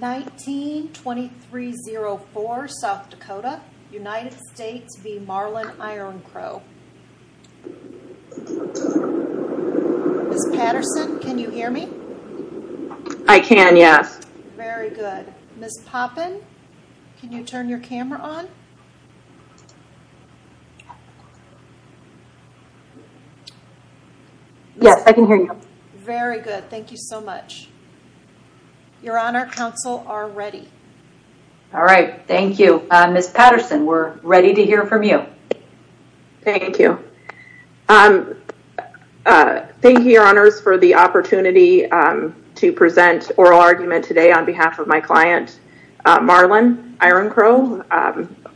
19-2304 South Dakota United States v. Marlon Iron Crow Miss Patterson, can you hear me? I can, yes. Very good. Miss Poppin, can you turn your camera on? Yes, I can hear you. Very good. Thank you so much. Your Honor, counsel are ready. All right. Thank you. Miss Patterson, we're ready to hear from you. Thank you. Thank you, Your Honors, for the opportunity to present oral argument today on behalf of my client Marlon Iron Crow.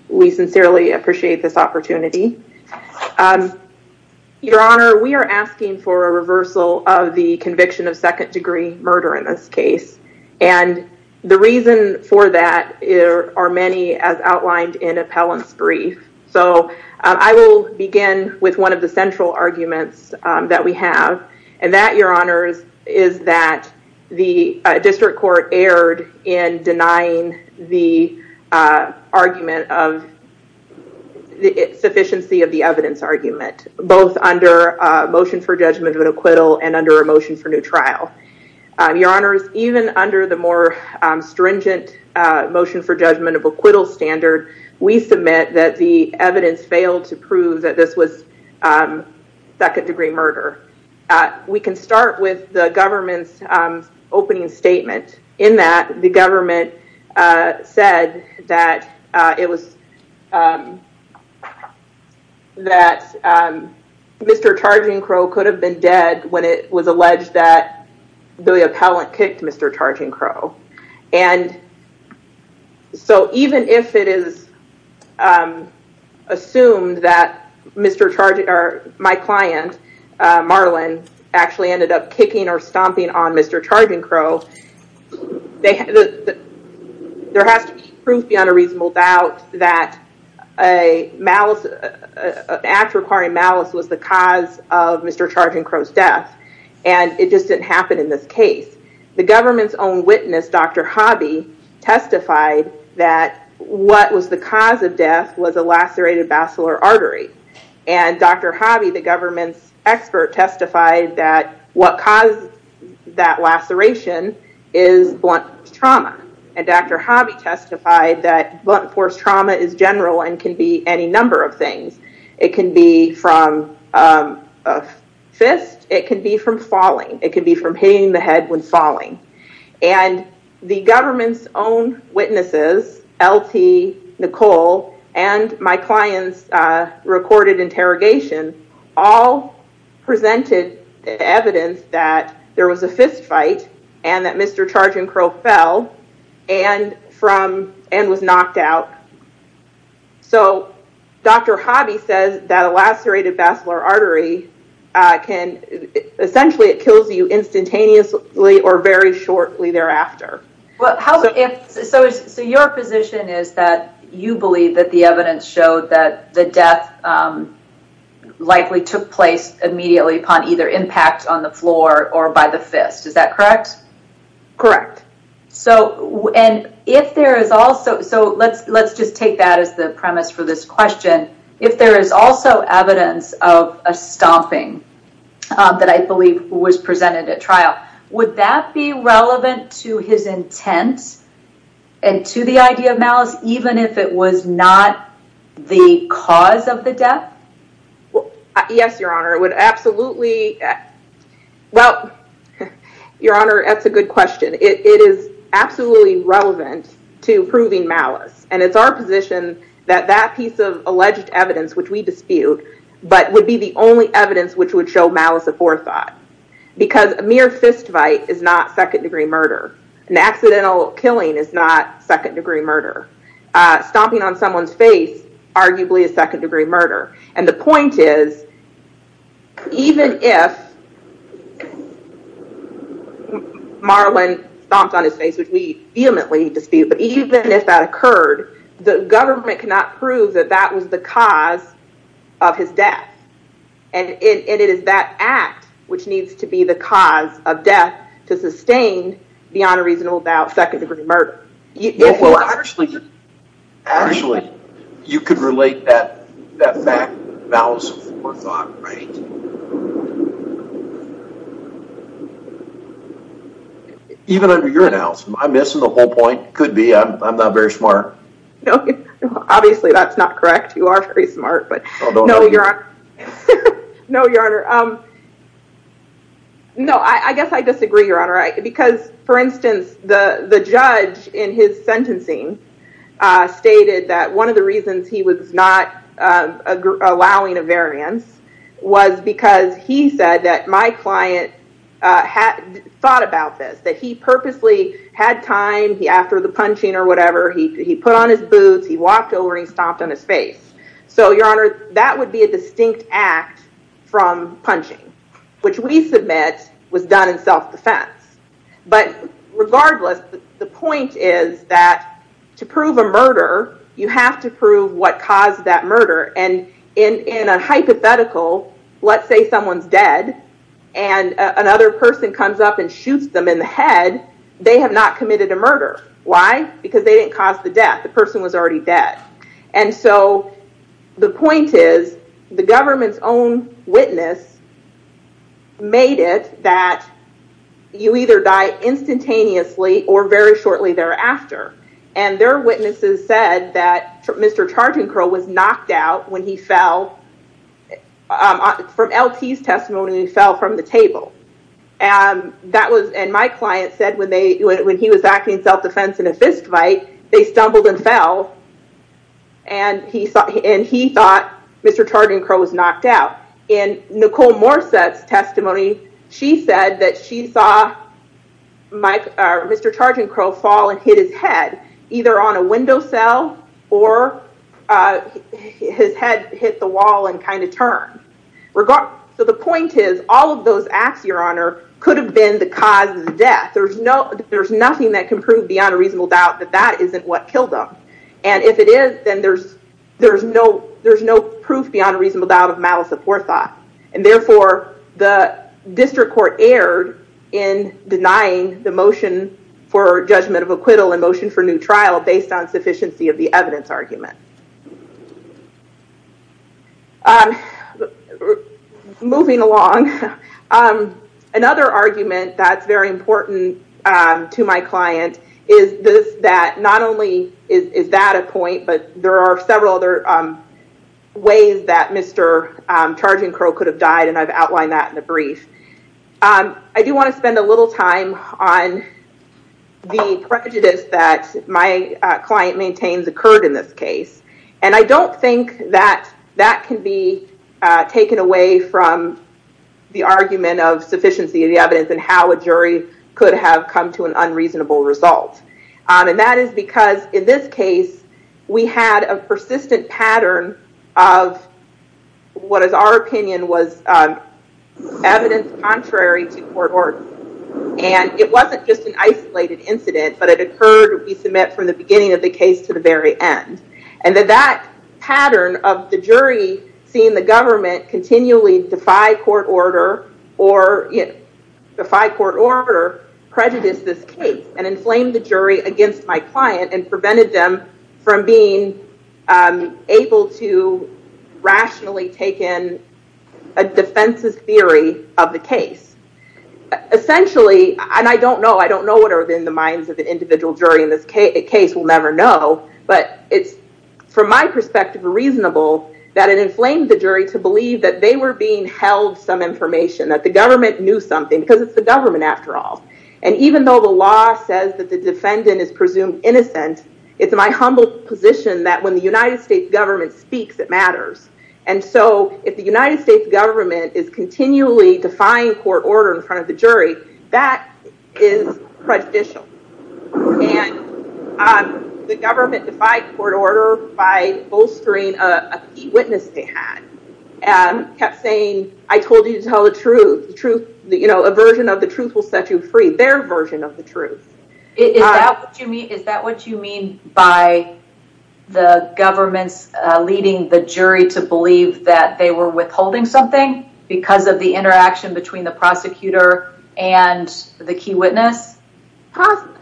We sincerely appreciate this opportunity. Your Honor, we are asking for a reversal of the conviction of second degree murder in this case. The reason for that are many as outlined in appellant's brief. I will begin with one of central arguments that we have, and that, Your Honors, is that the district court erred in denying the argument of the sufficiency of the evidence argument, both under a motion for judgment of acquittal and under a motion for new trial. Your Honors, even under the more stringent motion for judgment of acquittal standard, we submit that the evidence failed to prove that this was second degree murder. We can start with the government's opening statement. In that, the government said that Mr. Targing Crow could have been dead when it was alleged that my client, Marlon, actually ended up kicking or stomping on Mr. Targing Crow. There has to be proof beyond a reasonable doubt that an act requiring malice was the cause of Mr. Targing Crow's death, and it just didn't happen in this case. The government's own witness, Dr. Hobby, testified that what was the cause of death was a lacerated basilar artery. Dr. Hobby, the government's expert, testified that what caused that laceration is blunt trauma. Dr. Hobby testified that blunt force trauma is general and can be any number of things. It can be from a fist. It can be from falling. It can be from hitting the head when falling. The government's own witnesses, LT, Nicole, and my client's recorded interrogation all presented evidence that there was a fist fight and that Mr. Targing Crow fell and was knocked out. Dr. Hobby says that a lacerated basilar artery, essentially, it kills you instantaneously or very shortly thereafter. Well, so your position is that you believe that the evidence showed that the death likely took place immediately upon either impact on the floor or by the fist. Is that correct? Correct. Let's just take that as the premise for this question. If there is also evidence of a stomping that I believe was presented at trial, would that be relevant to his intent and to the idea of malice even if it was not the cause of the death? Yes, your honor. It would absolutely... Well, your honor, that's a good question. It is absolutely relevant to proving malice. It's our position that that piece of alleged evidence, which we dispute, but would be the only evidence which would show malice of forethought because a mere fist fight is not second-degree murder. An accidental killing is not second-degree murder. Stomping on someone's face, arguably, is second-degree murder. The point is, even if Marlon stomped on his face, which we vehemently dispute, but even if that occurred, the government cannot prove that that was the cause of his death. It is that act which needs to be the cause of death to sustain, beyond a reasonable doubt, second-degree murder. Well, actually, you could relate that to malice of forethought, right? Even under your analysis, I'm missing the whole point. Could be. I'm not very smart. Obviously, that's not correct. You are very smart, but no, your honor. No, I guess I disagree, your honor, because, for instance, the judge in his sentencing stated that one of the reasons he was not allowing a variance was because he said that my client thought about this, that he purposely had time after the punching or whatever, he put on his boots, he walked over and he stomped on his face. Your honor, that would be a distinct act from punching, which we submit was done in and in a hypothetical, let's say someone's dead and another person comes up and shoots them in the head, they have not committed a murder. Why? Because they didn't cause the death. The person was already dead. The point is, the government's own witness made it that you either die instantaneously or very shortly thereafter. Their witnesses said that Mr. Chargent Crow was knocked out when he fell. From LT's testimony, he fell from the table. My client said when he was acting in self-defense in a fistfight, they stumbled and fell, and he thought Mr. Chargent Crow was knocked out. In Nicole Morset's testimony, she said that she saw Mr. Chargent Crow fall and hit his head either on a window sill or his head hit the wall and turned. The point is, all of those acts, your honor, could have been the cause of the death. There's nothing that can prove beyond a reasonable doubt that that isn't what killed them. If it is, then there's no proof beyond a reasonable doubt of malice of poor thought. Therefore, the district court erred in denying the motion for judgment of acquittal and motion for new trial based on sufficiency of the evidence argument. Moving along, another argument that's very important to my client is that not only is that a point, but there are several other ways that Mr. Chargent Crow could have died, and I've outlined that in the brief. I do want to spend a little time on the prejudice that my client maintains occurred in this case. I don't think that that can be taken away from the argument of sufficiency of the evidence and how a jury could have come to an unreasonable result. That is because in this case, we had a persistent pattern of what is our opinion was evidence contrary to court order. It wasn't just an isolated incident, but it occurred we submit from the beginning of the case to the very end. That pattern of the jury seeing the government continually defy court order or defy court order prejudiced this case and inflamed the jury against my client and prevented them from being able to rationally take in a defense's theory of the case. Essentially, and I don't know, I don't know what are in the minds of an individual jury in this case, we'll never know, but it's, from my perspective, reasonable that it inflamed the jury to that the government knew something because it's the government after all. Even though the law says that the defendant is presumed innocent, it's my humble position that when the United States government speaks, it matters. If the United States government is continually defying court order in front of the jury, that is prejudicial. The government defied court order by bolstering a key witness they had and kept saying, I told you to tell the truth. A version of the truth will set you free. Their version of the truth. Is that what you mean by the government's leading the jury to believe that they were withholding something because of the interaction between the prosecutor and the key witness?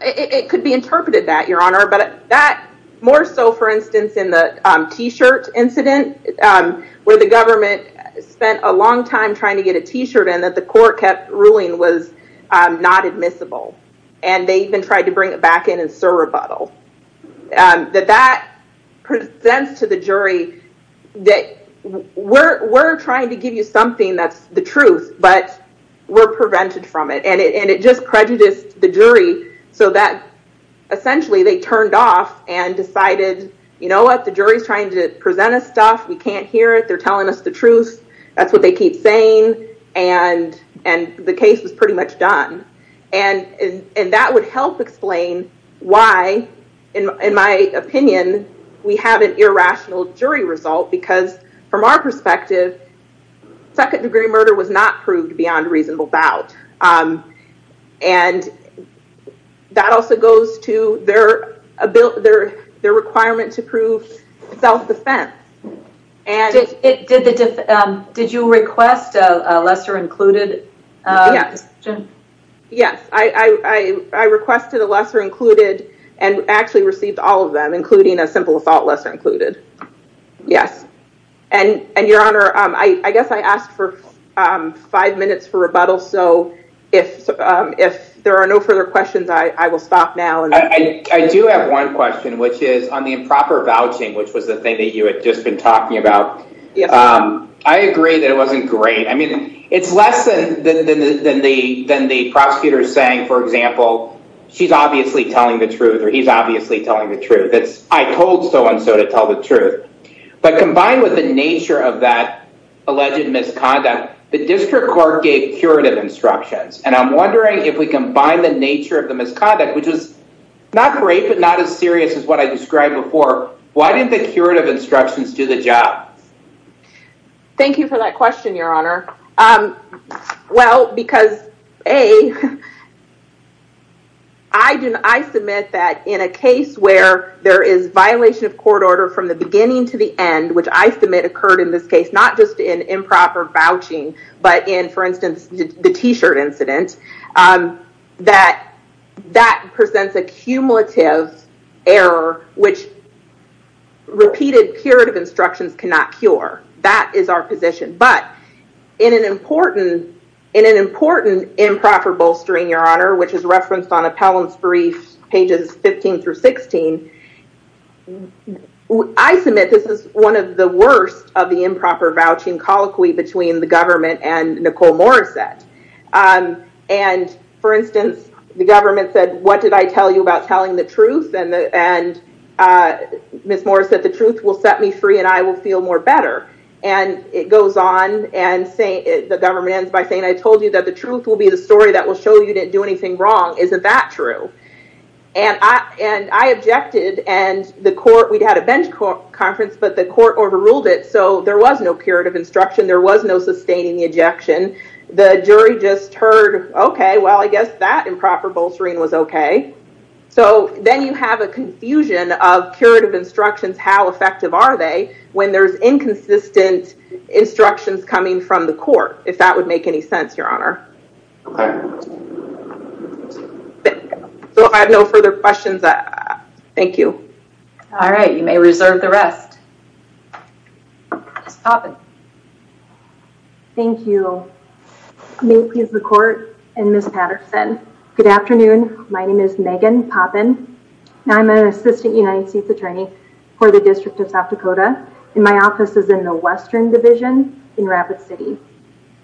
It could be interpreted that, Your Honor, but that more so, for instance, in the t-shirt incident where the government spent a long time trying to get a t-shirt in that the court kept ruling was not admissible. They even tried to bring it back in and serve rebuttal. That presents to the jury that we're trying to give you something that's the truth, but we're prevented from it. It just prejudiced the jury so that essentially they turned off and decided, you know what? The jury's trying to present us stuff. We can't hear it. They're telling us the truth. That's what they keep saying. The case was pretty much done. That would help explain why, in my opinion, we have an irrational jury result because from our perspective, second degree murder was not proved beyond reasonable doubt. That also goes to their requirement to prove self-defense. Did you request a lesser included? Yes. I requested a lesser included and actually received all of them, including a simple assault lesser included. Yes. Your Honor, I guess I asked for five minutes for rebuttal. If there are no further questions, I will stop now. I do have one question, which is on the improper vouching, which was the thing that you had just been talking about. I agree that it wasn't great. It's less than the prosecutor saying, for example, she's obviously telling the truth or he's obviously telling the truth. I told so-and-so to tell the truth. But combined with the nature of that alleged misconduct, the district court gave curative instructions. I'm wondering if we combine the nature of the misconduct, which is not great, but not as serious as what I described before. Why didn't the curative instructions do the job? Thank you for that question, Your Honor. Well, because A, I submit that in a case where there is violation of court order from the beginning to the end, which I submit occurred in this case, not just in improper vouching, but in, for instance, the t-shirt incident, that presents a cumulative error, which repeated curative instructions cannot cure. That is our position. But in an important improper bolstering, Your Honor, which is not true, I submit this is one of the worst of the improper vouching colloquy between the government and Nicole Morissette. For instance, the government said, what did I tell you about telling the truth? Ms. Morissette, the truth will set me free and I will feel more better. And it goes on and the government ends by saying, I told you that the truth will be the story that will show you didn't do anything wrong. Isn't that true? And I objected and the court, we'd had a bench conference, but the court overruled it. So there was no curative instruction. There was no sustaining the ejection. The jury just heard, okay, well, I guess that improper bolstering was okay. So then you have a confusion of curative instructions, how effective are they when there's inconsistent instructions coming from the court, if that would make any sense, Your Honor. So if I have no further questions, thank you. All right. You may reserve the rest. Thank you. May it please the court and Ms. Patterson. Good afternoon. My name is Megan Poppin. I'm an assistant United States attorney for the district of South Dakota. And my office is in the Western Division in Rapid City.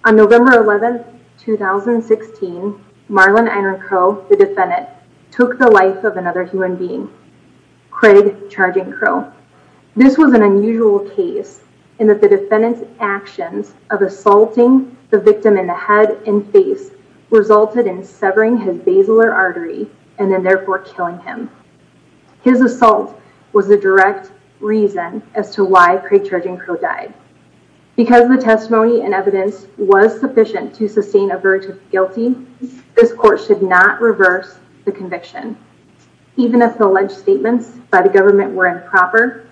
On November 11, 2016, Marlon Iron Crow, the defendant, took the life of another human being, Craig Charging Crow. This was an unusual case in that the defendant's actions of assaulting the victim in the head and face resulted in severing his basilar artery and then therefore killing him. His assault was the direct reason as to why Craig Charging Crow died. Because the testimony and evidence was sufficient to sustain a verdict of guilty, this court should not reverse the conviction. Even if the alleged statements by the government were improper,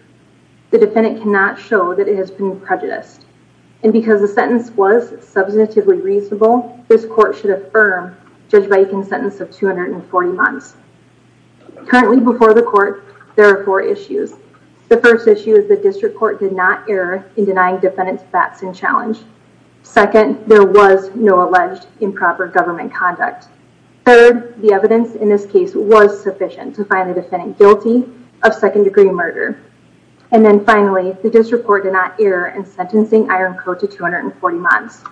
the defendant cannot show that it has been prejudiced. And because the sentence was substantively reasonable, this court should affirm Judge Viking's sentence of 240 months. Currently before the court, there are four issues. The first issue is the district court did not err in denying defendant's facts and challenge. Second, there was no alleged improper government conduct. Third, the evidence in this case was sufficient to find the defendant guilty of second-degree murder. And then finally, the district court did not err in sentencing Iron Crow to 240 months.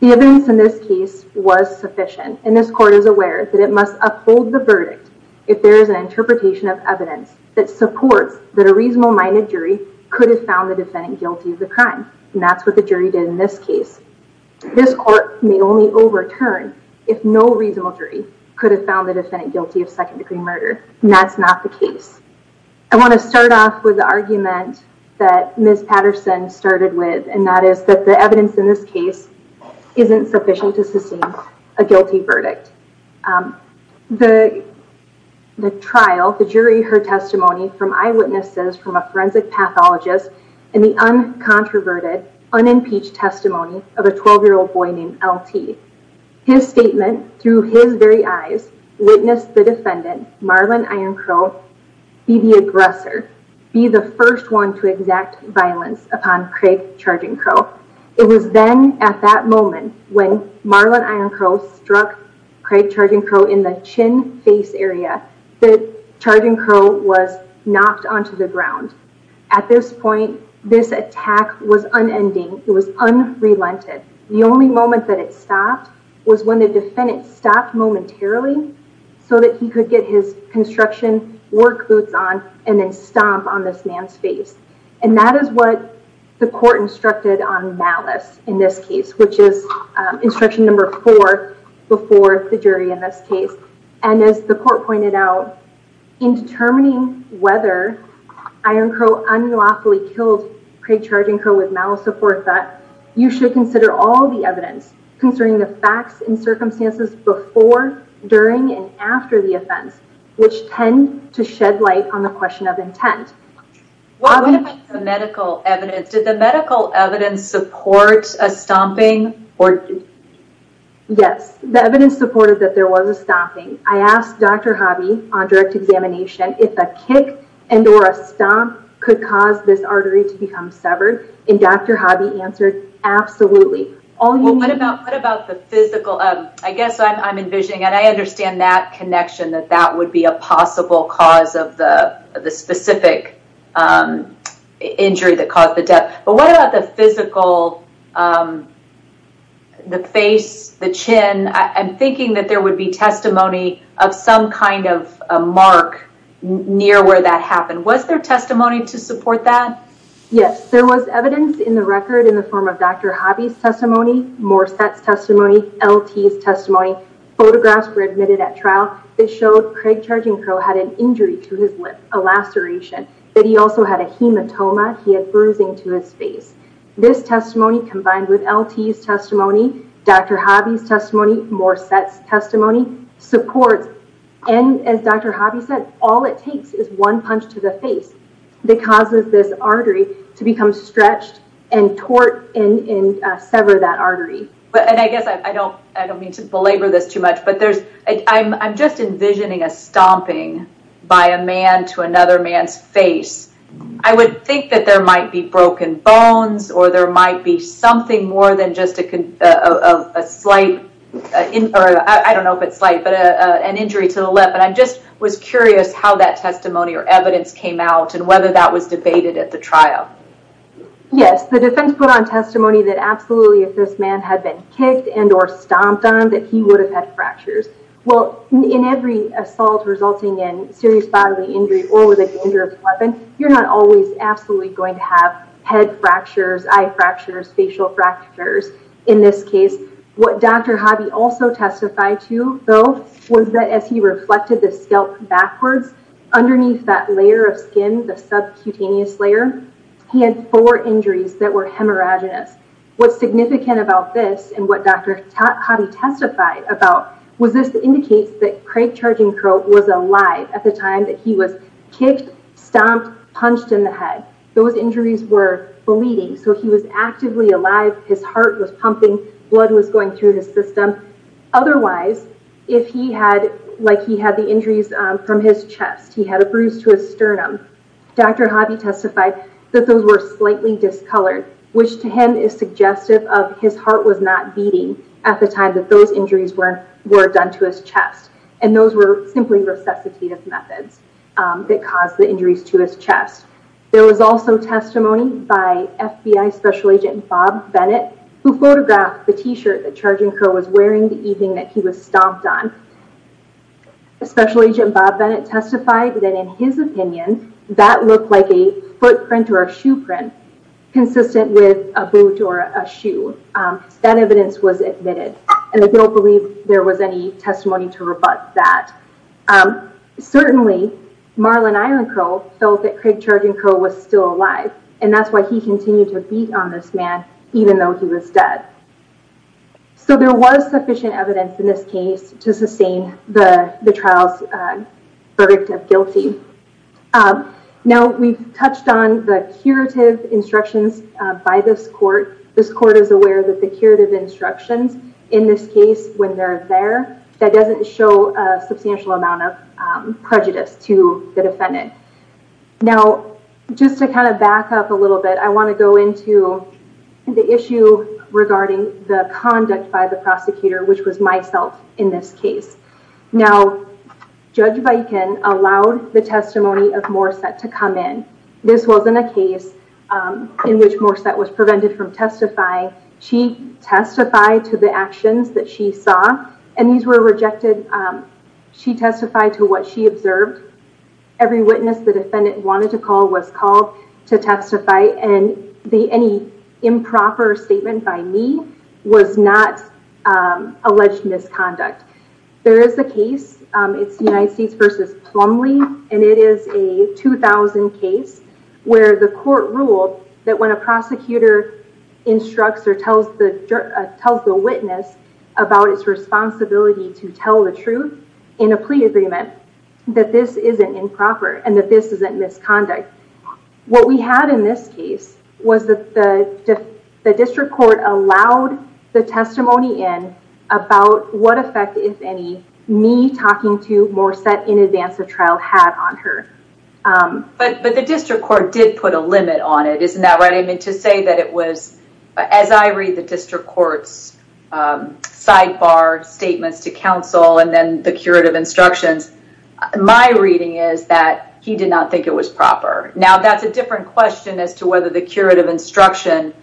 The evidence in this case was sufficient and this court is aware that it must uphold the verdict if there is an interpretation of evidence that supports that a could have found the defendant guilty of the crime. And that's what the jury did in this case. This court may only overturn if no reasonable jury could have found the defendant guilty of second-degree murder. And that's not the case. I want to start off with the argument that Ms. Patterson started with and that is that the evidence in this case isn't sufficient to sustain a guilty verdict. The trial, the jury, her testimony from eyewitnesses from a forensic pathologist and the uncontroverted, unimpeached testimony of a 12-year-old boy named LT. His statement through his very eyes witnessed the defendant, Marlon Iron Crow, be the aggressor, be the first one to exact violence upon Craig Charging Crow. It was then at that moment when Marlon Iron Crow struck Craig Charging Crow in the chin face area that Charging Crow was knocked onto the ground. At this point, this attack was unending. It was unrelented. The only moment that it stopped was when the defendant stopped momentarily so that he could get his construction work boots on and then stomp on this man's face. And that is what the court instructed on malice in this case, which is instruction number four before the jury in this case. And as the court pointed out, in determining whether Iron Crow unlawfully killed Craig Charging Crow with malice support, you should consider all the evidence concerning the facts and circumstances before, during, and after the offense, which tend to shed light on the question of intent. What about the medical evidence? Did the medical evidence support a stomping? Yes, the evidence supported that there was a stomping. I asked Dr. Hobby on direct examination if a kick and or a stomp could cause this artery to become severed and Dr. Hobby answered, absolutely. Well, what about the physical? I guess I'm envisioning and I understand that connection that that would be a possible cause of the specific injury that caused the death. But what about the physical, the face, the chin? I'm thinking that there would be testimony of some kind of a mark near where that happened. Was there testimony to support that? Yes, there was evidence in the record in the form of Dr. Hobby's testimony, Morset's testimony, LT's testimony. Photographs were admitted at trial that showed Craig Charging he had bruising to his face. This testimony combined with LT's testimony, Dr. Hobby's testimony, Morset's testimony supports. And as Dr. Hobby said, all it takes is one punch to the face that causes this artery to become stretched and tort and sever that artery. And I guess I don't mean to belabor this too much, but I'm just envisioning a stomping by a man to another man's face. I would think that there might be broken bones or there might be something more than just a slight, or I don't know if it's slight, but an injury to the lip. And I just was curious how that testimony or evidence came out and whether that was debated at the trial. Yes. The defense put on testimony that absolutely if this man had been kicked and or stomped on that he would have had fractures. Well, in every assault resulting in serious bodily injury or with a dangerous weapon, you're not always absolutely going to have head fractures, eye fractures, facial fractures. In this case, what Dr. Hobby also testified to though was that as he reflected the scalp backwards underneath that layer of skin, the subcutaneous layer, he had four injuries that were hemorrhaginous. What's significant about this and what Dr. Hobby testified about was this indicates that Craig Charging Crow was alive at the time that he was kicked, stomped, punched in the head. Those injuries were bleeding. So he was actively alive. His heart was pumping, blood was going through his system. Otherwise, if he had, like he had the injuries from his chest, he had a bruise to his sternum. Dr. Hobby testified that those were slightly discolored, which to him is suggestive of his heart was not beating at the time that those injuries were done to his chest. And those were simply resuscitative methods that caused the injuries to his chest. There was also testimony by FBI Special Agent Bob Bennett, who photographed the T-shirt that Charging Crow was wearing the evening that he was stomped on. Special Agent Bob Bennett testified that in his opinion, that looked like a footprint or a shoe print consistent with a boot or a shoe. That evidence was admitted. And I don't believe there was any testimony to rebut that. Certainly, Marlon Island Crow felt that Craig Charging Crow was still alive. And that's why he continued to beat on this man, even though he was dead. So there was sufficient evidence in this case to sustain the trial's verdict of guilty. Now, we've touched on the curative instructions by this court. This court is aware that the curative instructions in this case, when they're there, that doesn't show a substantial amount of prejudice to the defendant. Now, just to kind of back up a little bit, I want to go into the issue regarding the conduct by the prosecutor, which was myself in this case. Now, Judge Baiken allowed the testimony of Morissette to come in. This wasn't a case in which Morissette was prevented from testifying. She testified to the actions that she saw, and these were rejected. She testified to what she observed. Every witness the defendant wanted to call was called to testify. And any improper statement by me was not alleged misconduct. There is a case it's the United States versus Plumlee, and it is a 2000 case where the court ruled that when a prosecutor instructs or tells the witness about its responsibility to tell the truth in a plea agreement, that this isn't improper and that this isn't misconduct. What we had in this case was that the district court allowed the testimony in about what effect, if any, me talking to Morissette in advance of trial had on her. But the district court did put a limit on it, isn't that right? I mean, to say that it was, as I read the district court's sidebar statements to counsel and then the curative instructions, my reading is that he did not think it was proper. Now, that's a different question as to whether the curative instruction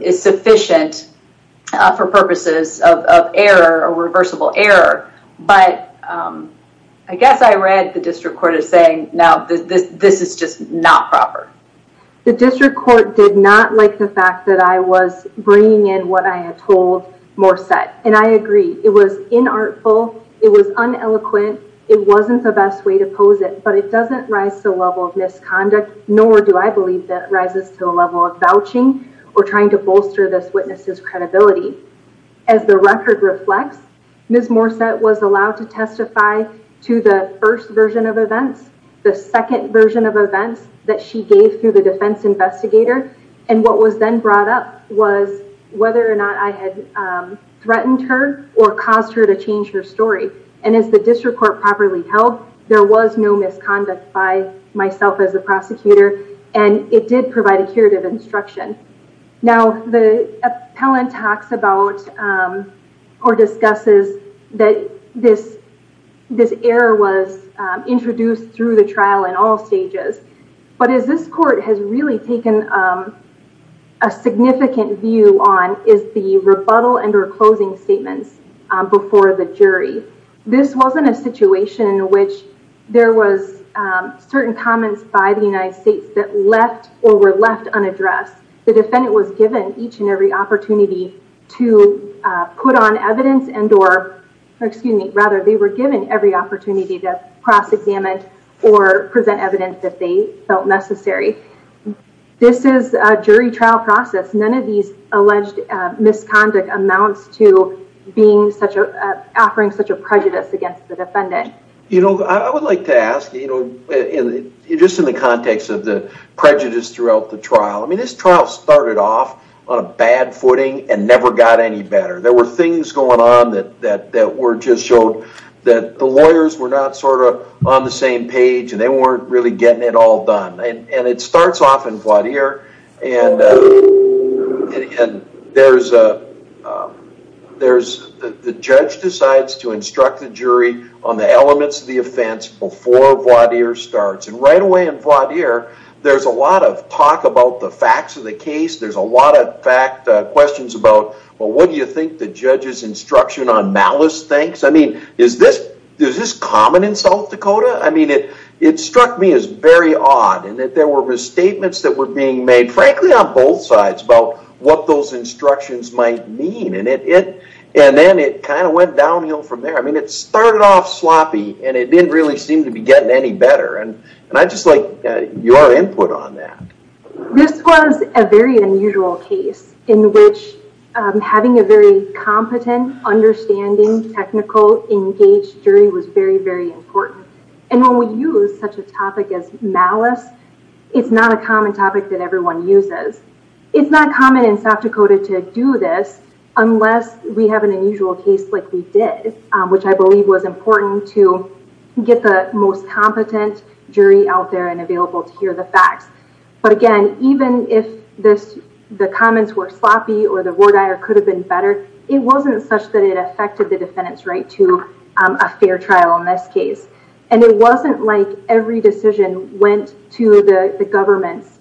is sufficient for purposes of error or reversible error. But I guess I read the district court as saying, now, this is just not proper. The district court did not like the fact that I was bringing in what I had told Morissette. And I agree, it was inartful, it was uneloquent, it wasn't the best way to pose it, but it doesn't rise to the level of misconduct, nor do I believe that rises to the level of vouching or trying to bolster this witness's credibility. As the record reflects, Ms. Morissette was allowed to testify to the first version of events, the second version of events that she gave through the defense investigator, and what was then brought up was whether or not I had threatened her or caused her to change her story. And as the district court properly held, there was no misconduct by myself as a prosecutor, and it did provide a curative instruction. Now, the appellant talks about or discusses that this error was introduced through the trial in all stages. But as this court has really taken a significant view on is the rebuttal and or closing statements before the jury. This wasn't a situation in which there was certain comments by the United States that left or were left unaddressed. The defendant was given each and every opportunity to put on evidence and or excuse me, rather, they were given every opportunity to cross-examine or present evidence if they felt necessary. This is a jury trial process. None of these alleged misconduct amounts to being such a offering such a prejudice against the defendant. You know, I would like to ask, you know, just in the context of the prejudice throughout the trial, I mean, this trial started off on a bad footing and never got any better. There were things going on that were just showed that the lawyers were not sort of on the same page and they weren't really getting it all done. And it starts off in voir dire and there's the judge decides to instruct the jury on the elements of the offense before voir dire starts. And right away in voir dire, there's a lot of talk about the facts of the case. There's a lot of fact questions about, well, what do you think the judge's doing? Is this common in South Dakota? I mean, it struck me as very odd and that there were misstatements that were being made, frankly, on both sides about what those instructions might mean. And then it kind of went downhill from there. I mean, it started off sloppy and it didn't really seem to be getting any better. And I'd just like your input on that. This was a very unusual case in which having a very competent, understanding, technical, engaged jury was very, very important. And when we use such a topic as malice, it's not a common topic that everyone uses. It's not common in South Dakota to do this unless we have an unusual case like we did, which I believe was important to get the most competent jury out there and available to hear the facts. But again, even if the comments were sloppy or the voir dire could have been better, it wasn't such that it affected the defendant's right to a fair trial in this case. And it wasn't like every decision went to the government's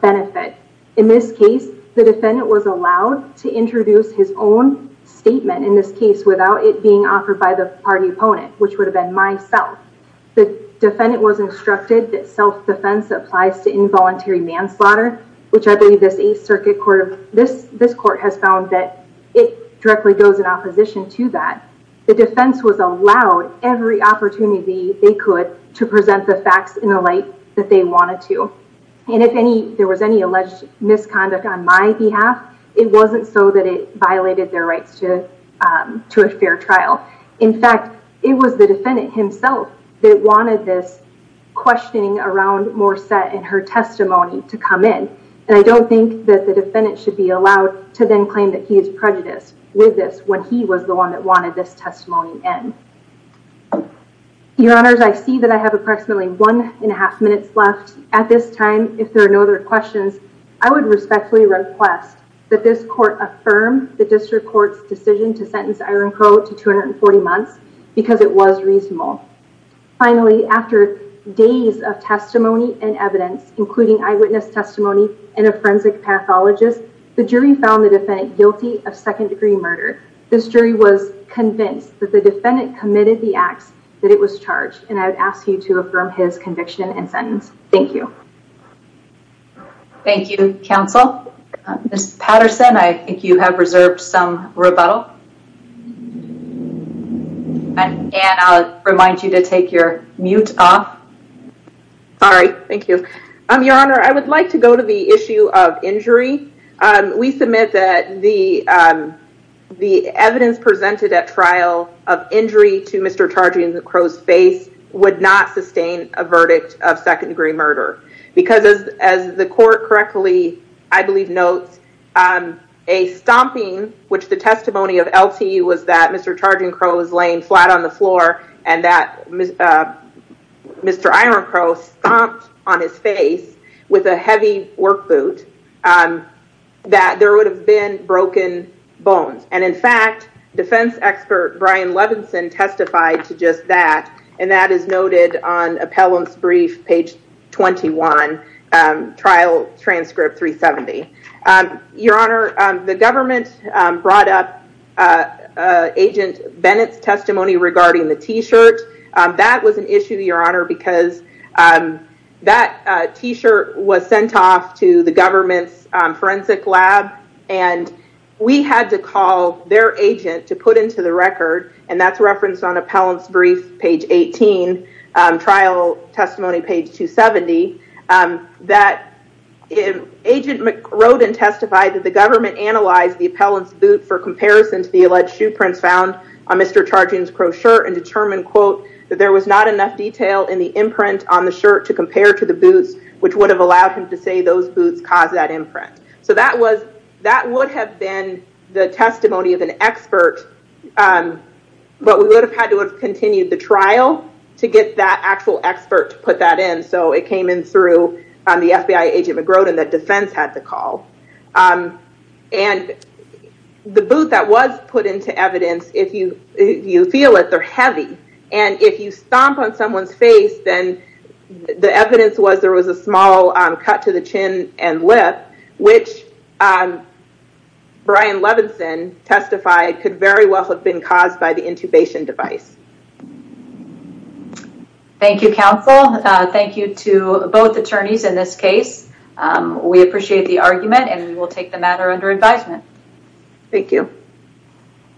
benefit. In this case, the defendant was allowed to introduce his own statement in this case without it being offered by the party opponent, which would have been myself. The defendant was instructed that self defense applies to involuntary manslaughter, which I believe this 8th Circuit Court, this court has found that it directly goes in opposition to that. The defense was allowed every opportunity they could to present the facts in a light that they wanted to. And if there was any alleged misconduct on my behalf, it wasn't so that it violated their rights to a fair trial. In fact, it was the defendant himself that wanted this questioning around Morset and her testimony to come in. And I don't think that the defendant should be allowed to then claim that he is prejudiced with this when he was the one that wanted this testimony in. Your honors, I see that I have approximately one and a half minutes left at this time. If there are no other questions, I would respectfully request that this court affirm the district court's decision to sentence Iron Crow to 240 months because it was reasonable. Finally, after days of testimony and evidence, including eyewitness testimony and a forensic pathologist, the jury found the defendant guilty of second degree murder. This jury was convinced that the defendant committed the acts that it I would ask you to affirm his conviction and sentence. Thank you. Thank you, counsel. Ms. Patterson, I think you have reserved some rebuttal. And I'll remind you to take your mute off. All right. Thank you. Your honor, I would like to go to the issue of injury. We submit that the evidence presented at trial of injury to Mr. Crow's face would not sustain a verdict of second degree murder because, as the court correctly, I believe, notes, a stomping, which the testimony of LTU was that Mr. Charging Crow was laying flat on the floor and that Mr. Iron Crow stomped on his face with a heavy work boot, that there would have been broken bones. And in fact, defense expert Brian Levinson testified to just that, and that is noted on appellant's brief, page 21, trial transcript 370. Your honor, the government brought up Agent Bennett's testimony regarding the T-shirt. That was an issue, your honor, because that T-shirt was sent off to the government's forensic lab, and we had to call their agent to put into the record, and that's referenced on appellant's brief, page 18, trial testimony, page 270, that Agent wrote and testified that the government analyzed the appellant's boot for comparison to the alleged shoe prints found on Mr. Charging Crow's shirt and determined, quote, there was not enough detail in the imprint on the shirt to compare to the boots, which would have allowed him to say those boots caused that imprint. So that would have been the testimony of an expert, but we would have had to have continued the trial to get that actual expert to put that in, so it came in through the FBI agent McGrodin that defense had to call. And the boot that was put into evidence, if you feel it, they're heavy, and if you stomp on someone's face, then the evidence was there was a small cut to the chin and lip, which Brian Levinson testified could very well have been caused by the intubation device. Thank you, counsel. Thank you to both attorneys in this case. We appreciate the argument, and we will take the matter under advisement. Thank you.